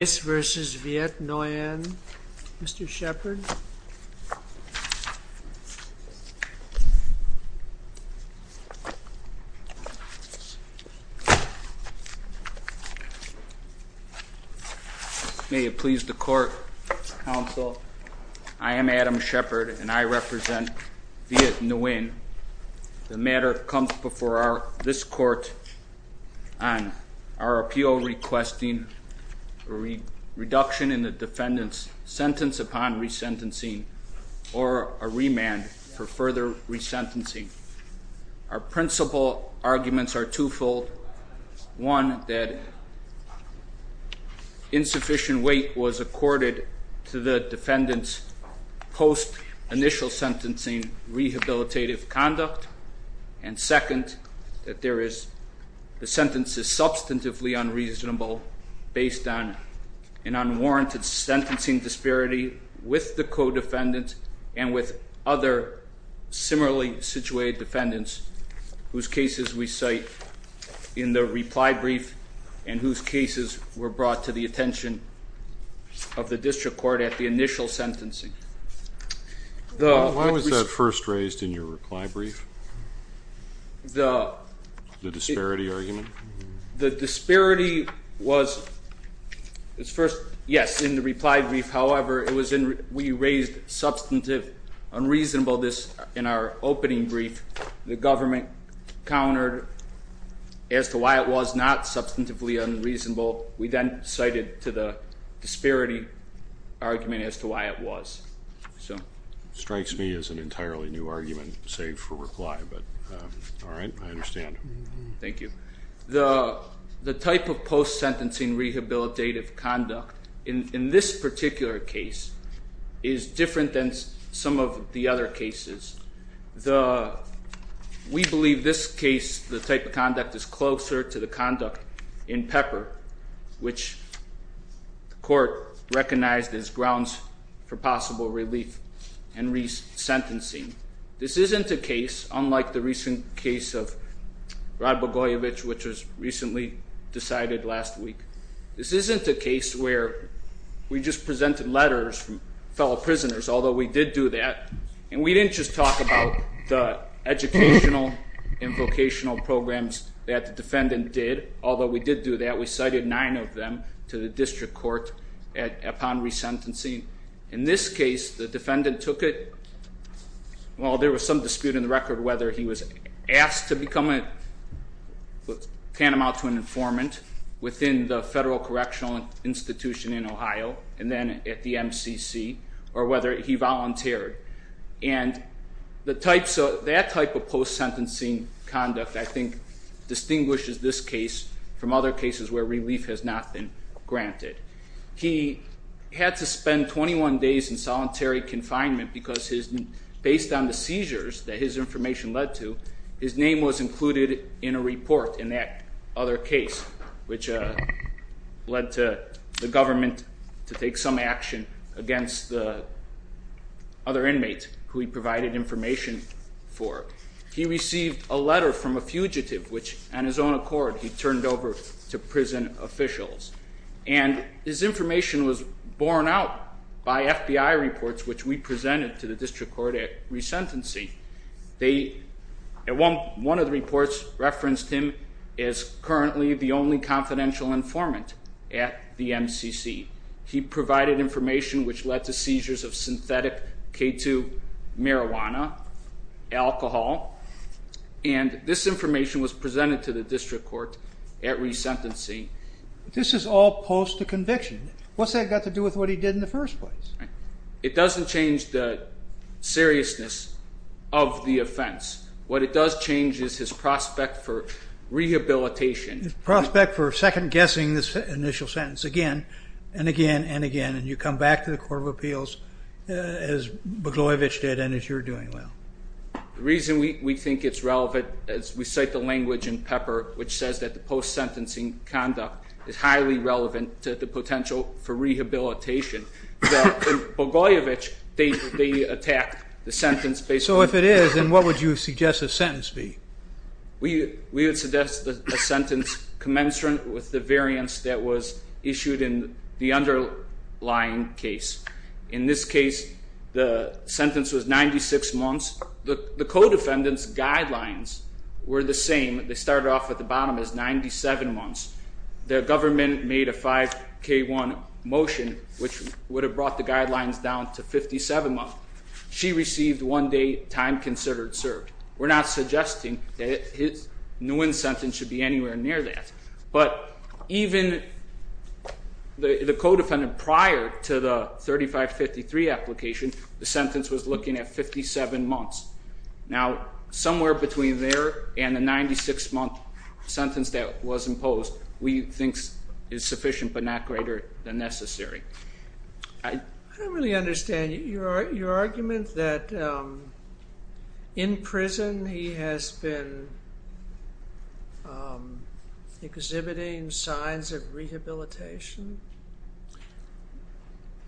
Viet Nguyen, Mr. Shepard. May it please the court, counsel, I am Adam Shepard and I represent Viet Nguyen. The matter comes before this court on our appeal requesting a reduction in the defendant's sentence upon re-sentencing or a remand for further re-sentencing. Our principal arguments are twofold, one that insufficient weight was accorded to the defendant's post-initial sentencing rehabilitative conduct and second that the sentence is substantively unreasonable based on an unwarranted sentencing disparity with the co-defendant and with other similarly situated defendants whose cases we cite in the reply brief and whose cases were brought to the attention of the district court at the initial sentencing. Why was that first raised in your reply brief? The disparity was, yes, in the reply brief, however, we raised substantive unreasonableness in our opening brief, the government countered as to why it was not substantively unreasonable, we then cited to the disparity argument as to why it was. So it strikes me as an entirely new argument, save for reply, but all right, I understand. Thank you. The type of post-sentencing rehabilitative conduct in this particular case is different than some of the other cases. We believe this case, the type of conduct is closer to the conduct in Pepper, which the court recognized as grounds for possible relief and resentencing. This isn't a case, unlike the recent case of Rod Bogoyevich, which was recently decided last week. This isn't a case where we just presented letters from fellow prisoners, although we did do that. And we didn't just talk about the educational and vocational programs that the defendant did. Although we did do that, we cited nine of them to the district court upon resentencing. In this case, the defendant took it, well, there was some dispute in the record whether he was asked to become a, tantamount to an informant within the federal correctional institution in Ohio and then at the MCC, or whether he volunteered. And that type of post-sentencing conduct, I think, distinguishes this case from other cases where relief has not been granted. He had to spend 21 days in solitary confinement because based on the seizures that his information led to, his name was included in a report in that other case, which led to the government to take some action against the other inmates who he provided information for. He received a letter from a fugitive, which on his own accord, he turned over to prison officials. And his information was borne out by FBI reports, which we presented to the district court at resentency. They, one of the reports referenced him as currently the only confidential informant at the MCC. He provided information which led to seizures of synthetic K2 marijuana, alcohol, and this information was presented to the district court at resentency. This is all post-conviction. What's that got to do with what he did in the first place? It doesn't change the seriousness of the offense. What it does change is his prospect for rehabilitation. His prospect for second guessing this initial sentence again, and again, and again. And you come back to the Court of Appeals as Boglovich did, and as you're doing well. The reason we think it's relevant, as we cite the language in Pepper, which says that the post-sentencing conduct is highly relevant to the potential for rehabilitation. In Boglovich, they attacked the sentence based on- So if it is, then what would you suggest the sentence be? We would suggest a sentence commensurate with the variance that was issued in the underlying case. In this case, the sentence was 96 months. The co-defendants guidelines were the same. They started off at the bottom as 97 months. The government made a 5K1 motion, which would have brought the guidelines down to 57 months. She received one day time considered served. We're not suggesting that Nguyen's sentence should be anywhere near that. But even the co-defendant prior to the 3553 application, the sentence was looking at 57 months. Now, somewhere between there and the 96 month sentence that was imposed, we think is sufficient, but not greater than necessary. I don't really understand your argument that in prison, he has been exhibiting signs of rehabilitation.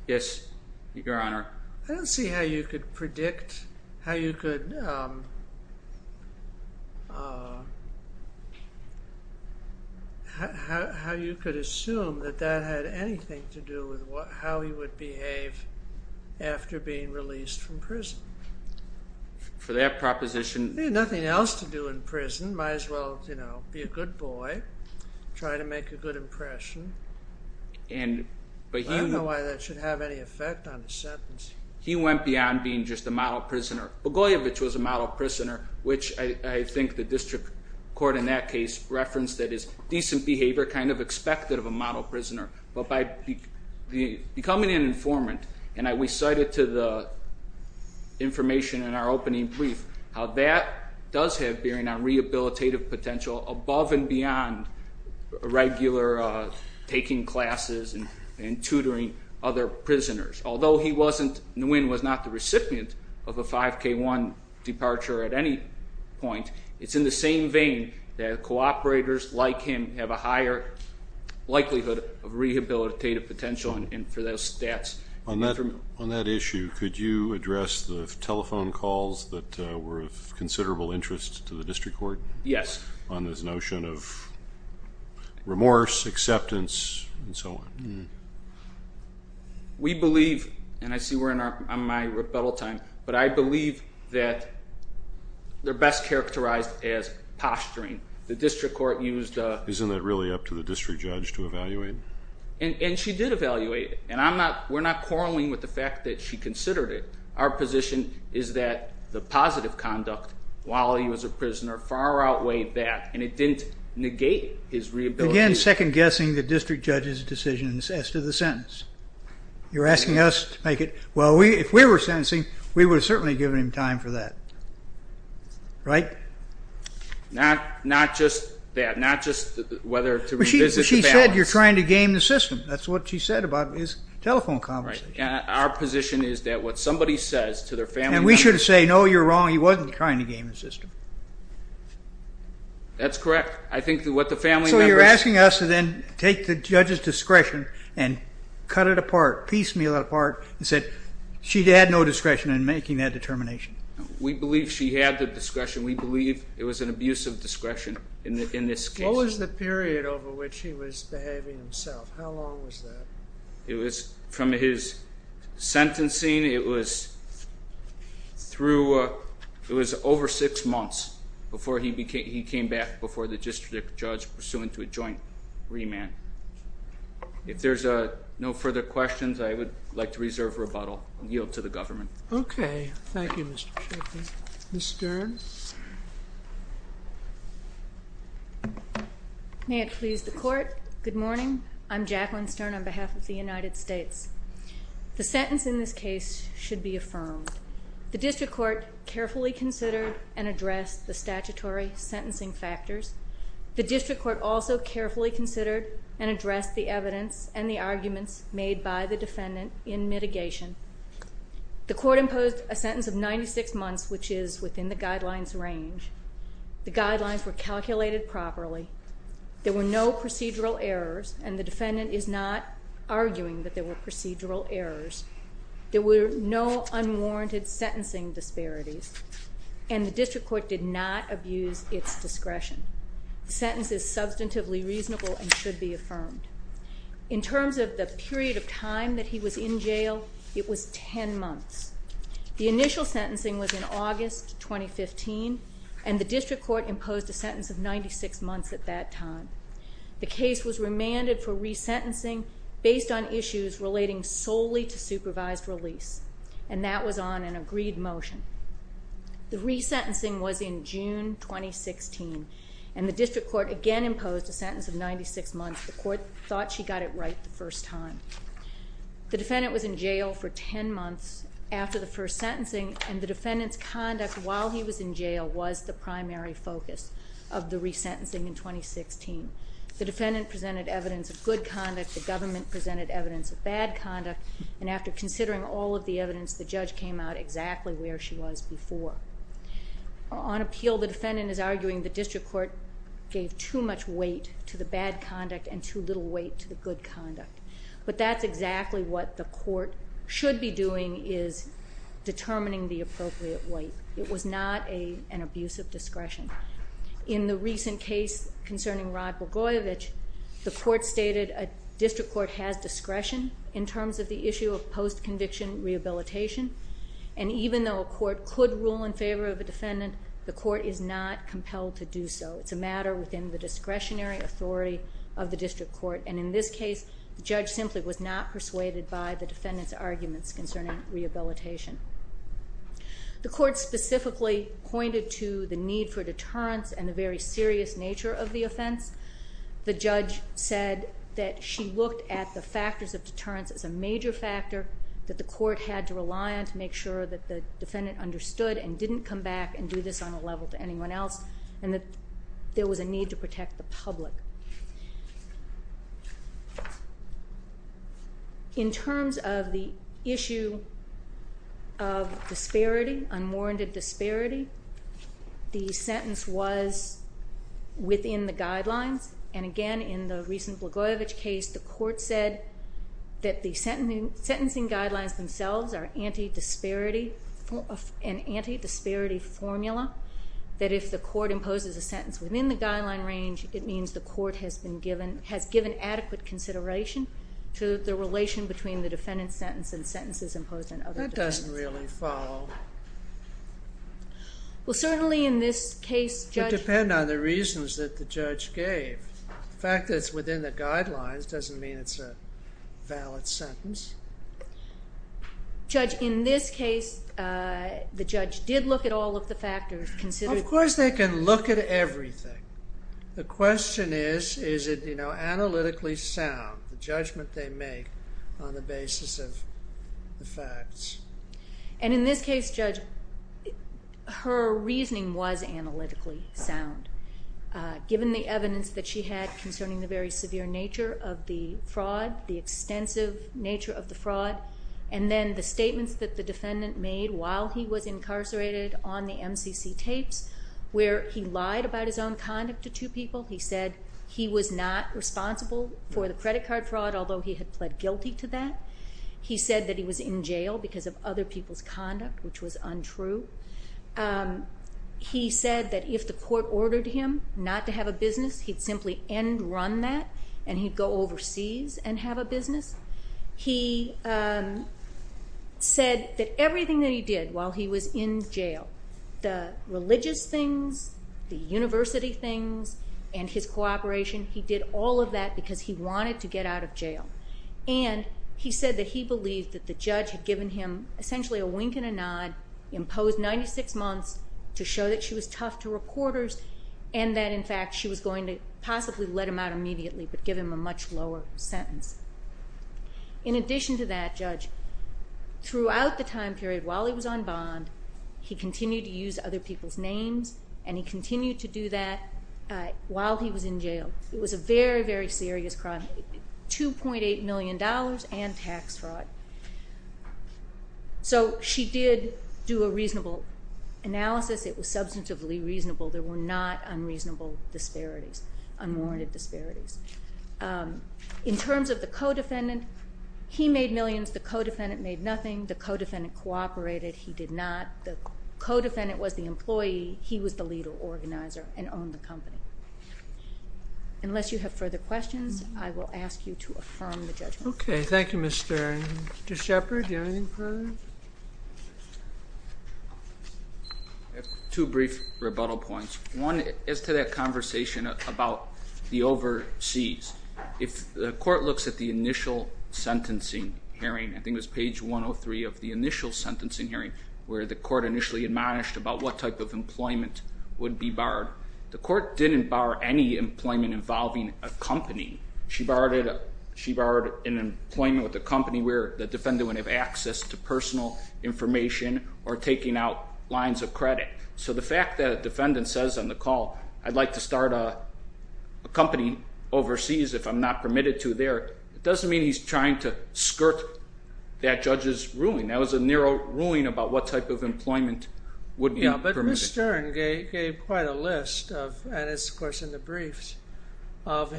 Yes, Your Honor. I don't see how you could predict, how you could... How you could assume that that had anything to do with how he would behave after being released from prison. For that proposition- He had nothing else to do in prison. Might as well, you know, be a good boy, try to make a good impression. I don't know why that should have any effect on the sentence. He went beyond being just a model prisoner. Bogoyevich was a model prisoner, which I think the district court in that case referenced, that his decent behavior kind of expected of a model prisoner. But by becoming an informant, and we cited to the information in our opening brief, how that does have bearing on rehabilitative potential above and beyond regular taking classes and tutoring other prisoners. Although Nguyen was not the recipient of a 5K1 departure at any point, it's in the same vein that cooperators like him have a higher likelihood of rehabilitative potential for those stats. On that issue, could you address the telephone calls that were of considerable interest to the district court? Yes. On this notion of remorse, acceptance, and so on. We believe, and I see we're on my rebuttal time, but I believe that they're best characterized as posturing. The district court used- And she did evaluate it. And we're not quarreling with the fact that she considered it. Our position is that the positive conduct, while he was a prisoner, far outweighed that. And it didn't negate his rehabilitation. Again, second guessing the district judge's decision as to the sentence. You're asking us to make it, well, if we were sentencing, we would have certainly given him time for that. Right? Not just that. Not just whether to revisit the balance. You said you're trying to game the system. That's what she said about his telephone conversation. Our position is that what somebody says to their family member- And we should have said, no, you're wrong. He wasn't trying to game the system. That's correct. I think that what the family members- So you're asking us to then take the judge's discretion and cut it apart, piecemeal it apart, and said she had no discretion in making that determination. We believe she had the discretion. We believe it was an abuse of discretion in this case. What was the period over which he was behaving himself? How long was that? It was from his sentencing, it was over six months before he came back before the district judge, pursuant to a joint remand. If there's no further questions, I would like to reserve rebuttal and yield to the government. Okay. Thank you, Mr. Sheffield. Ms. Stern? May it please the court, good morning. I'm Jacqueline Stern on behalf of the United States. The sentence in this case should be affirmed. The district court carefully considered and addressed the statutory sentencing factors. The district court also carefully considered and addressed the evidence and the arguments made by the defendant in mitigation. The court imposed a sentence of 96 months, which is within the guidelines range. The guidelines were calculated properly. There were no procedural errors, and the defendant is not arguing that there were procedural errors. There were no unwarranted sentencing disparities, and the district court did not abuse its discretion. Sentence is substantively reasonable and should be affirmed. In terms of the period of time that he was in jail, it was ten months. The initial sentencing was in August 2015, and the district court imposed a sentence of 96 months at that time. The case was remanded for resentencing based on issues relating solely to supervised release, and that was on an agreed motion. The resentencing was in June 2016, and the district court again imposed a sentence of 96 months. The court thought she got it right the first time. The defendant was in jail for ten months after the first sentencing, and the defendant's conduct while he was in jail was the primary focus of the resentencing in 2016. The defendant presented evidence of good conduct, the government presented evidence of bad conduct, and after considering all of the evidence, the judge came out exactly where she was before. On appeal, the defendant is arguing the district court gave too much weight to the bad conduct and too little weight to the good conduct. But that's exactly what the court should be doing is determining the appropriate weight. It was not an abuse of discretion. In the recent case concerning Rod Bogoyevich, the court stated a district court has discretion in terms of the issue of post-conviction rehabilitation, and even though a court could rule in favor of a defendant, the court is not compelled to do so, it's a matter within the discretionary authority of the district court. And in this case, the judge simply was not persuaded by the defendant's arguments concerning rehabilitation. The court specifically pointed to the need for deterrence and the very serious nature of the offense. The judge said that she looked at the factors of deterrence as a major factor that the court had to rely on to make sure that the defendant understood and didn't come back and do this on a level to anyone else, and that there was a need to protect the public. In terms of the issue of disparity, unwarranted disparity, the sentence was within the guidelines, and again in the recent Bogoyevich case, the court said that the sentencing guidelines themselves are an anti-disparity formula, that if the court imposes a sentence within the guideline range, it means the court has given adequate consideration to the relation between the defendant's sentence and sentences imposed on other defendants. That doesn't really follow. Well, certainly in this case, judge... It would depend on the reasons that the judge gave. The fact that it's within the guidelines doesn't mean it's a valid sentence. Judge, in this case, the judge did look at all of the factors considered... Of course they can look at everything. The question is, is it, you know, analytically sound? The judgment they make on the basis of the facts. And in this case, judge, her reasoning was analytically sound. Given the evidence that she had concerning the very severe nature of the fraud, the extensive nature of the fraud, and then the statements that the defendant made while he was incarcerated on the MCC tapes, where he lied about his own conduct to two people. He said he was not responsible for the credit card fraud, although he had pled guilty to that. He said that he was in jail because of other people's conduct, which was untrue. He said that if the court ordered him not to have a business, he'd simply end-run that, He said that everything that he did while he was in jail, the religious things, the university things, and his cooperation, he did all of that because he wanted to get out of jail. And he said that he believed that the judge had given him essentially a wink and a nod, imposed 96 months to show that she was tough to reporters, and that, in fact, she was going to possibly let him out immediately, but give him a much lower sentence. In addition to that, Judge, throughout the time period while he was on bond, he continued to use other people's names, and he continued to do that while he was in jail. It was a very, very serious crime, $2.8 million and tax fraud. So she did do a reasonable analysis. It was substantively reasonable. There were not unreasonable disparities, unwarranted disparities. In terms of the co-defendant, he made millions. The co-defendant made nothing. The co-defendant cooperated. He did not. The co-defendant was the employee. He was the leader, organizer, and owned the company. Unless you have further questions, I will ask you to affirm the judgment. Okay, thank you, Mr. Shepard. Do you have anything further? I have two brief rebuttal points. One is to that conversation about the overseas. If the court looks at the initial sentencing hearing, I think it was page 103 of the initial sentencing hearing, where the court initially admonished about what type of employment would be barred, the court didn't bar any employment involving a company. She barred an employment with a company where the defendant would have access to personal information or taking out lines of credit. So the fact that a defendant says on the call, I'd like to start a company overseas if I'm not permitted to there, it doesn't mean he's trying to skirt that judge's ruling. That was a narrow ruling about what type of employment would be permitted. Mr. Stern gave quite a list of, and it's of course in the briefs, of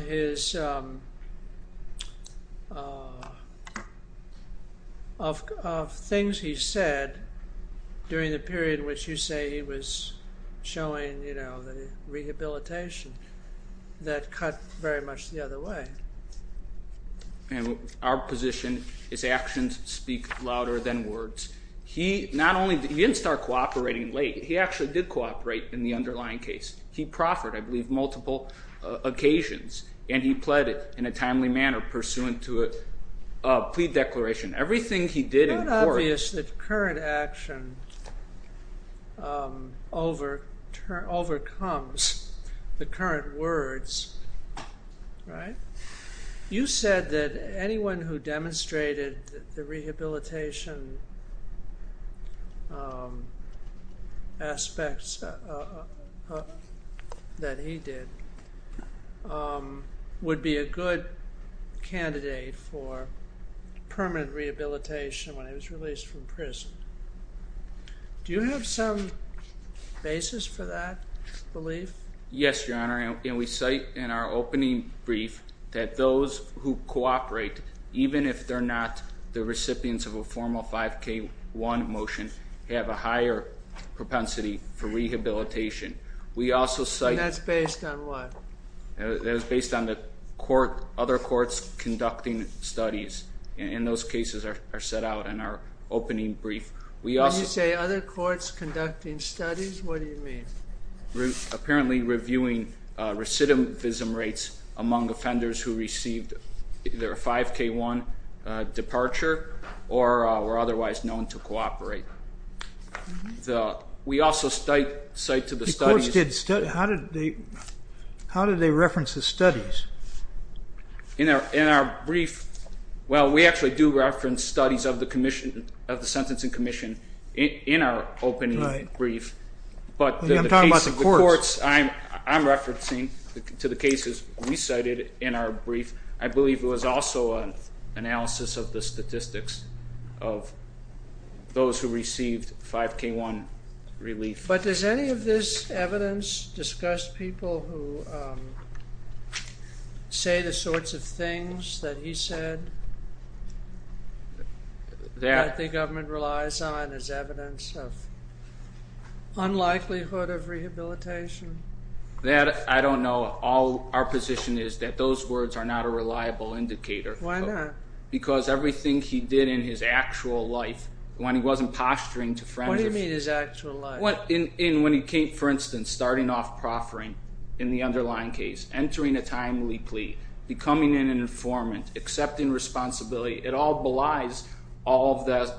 things he said during the period in which you say he was showing the rehabilitation that cut very much the other way. Our position is actions speak louder than words. He didn't start cooperating late. He actually did cooperate in the underlying case. He proffered, I believe, multiple occasions, and he pled it in a timely manner pursuant to a plea declaration. Everything he did in court- It's not obvious that current action overcomes the current words. You said that anyone who demonstrated the rehabilitation aspects that he did would be a good candidate for permanent rehabilitation when he was released from prison. Do you have some basis for that belief? Yes, Your Honor, and we cite in our opening brief that those who cooperate, even if they're not the recipients of a formal 5K1 motion, have a higher propensity for rehabilitation. We also cite- And that's based on what? That is based on the other courts conducting studies, and those cases are set out in our opening brief. When you say other courts conducting studies, what do you mean? Apparently reviewing recidivism rates among offenders who received either a 5K1 departure or were otherwise known to cooperate. We also cite to the studies- The courts did studies? How did they reference the studies? In our brief, well, we actually do reference studies of the commission, of the Sentencing Commission in our opening brief, but the case of the courts- I'm talking about the courts. I'm referencing to the cases we cited in our brief. I believe there was also an analysis of the statistics of those who received 5K1 relief. But does any of this evidence discuss people who say the sorts of things that he said that the government relies on as evidence of unlikelihood of rehabilitation? That, I don't know. Our position is that those words are not a reliable indicator. Why not? Because everything he did in his actual life, when he wasn't posturing to- What do you mean his actual life? When he came, for instance, starting off proffering in the underlying case, entering a timely plea, becoming an informant, accepting responsibility, it all belies all of the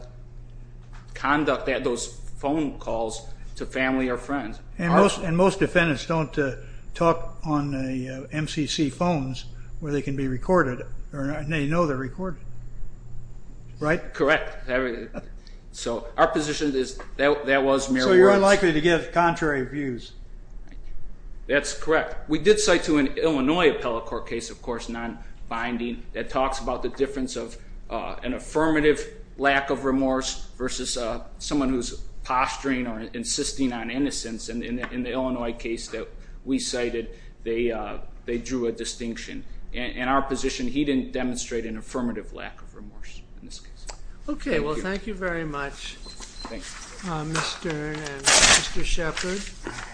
conduct, those phone calls to family or friends. And most defendants don't talk on MCC phones where they can be recorded, and they know they're recorded, right? Correct. So our position is that was mere words. So you're unlikely to get contrary views. That's correct. We did cite to an Illinois appellate court case, of course, nonbinding, that talks about the difference of an affirmative lack of remorse versus someone who's posturing or insisting on innocence. And in the Illinois case that we cited, they drew a distinction. In our position, he didn't demonstrate an affirmative lack of remorse in this case. Okay. Well, thank you very much, Mr. Stern and Mr. Shepard.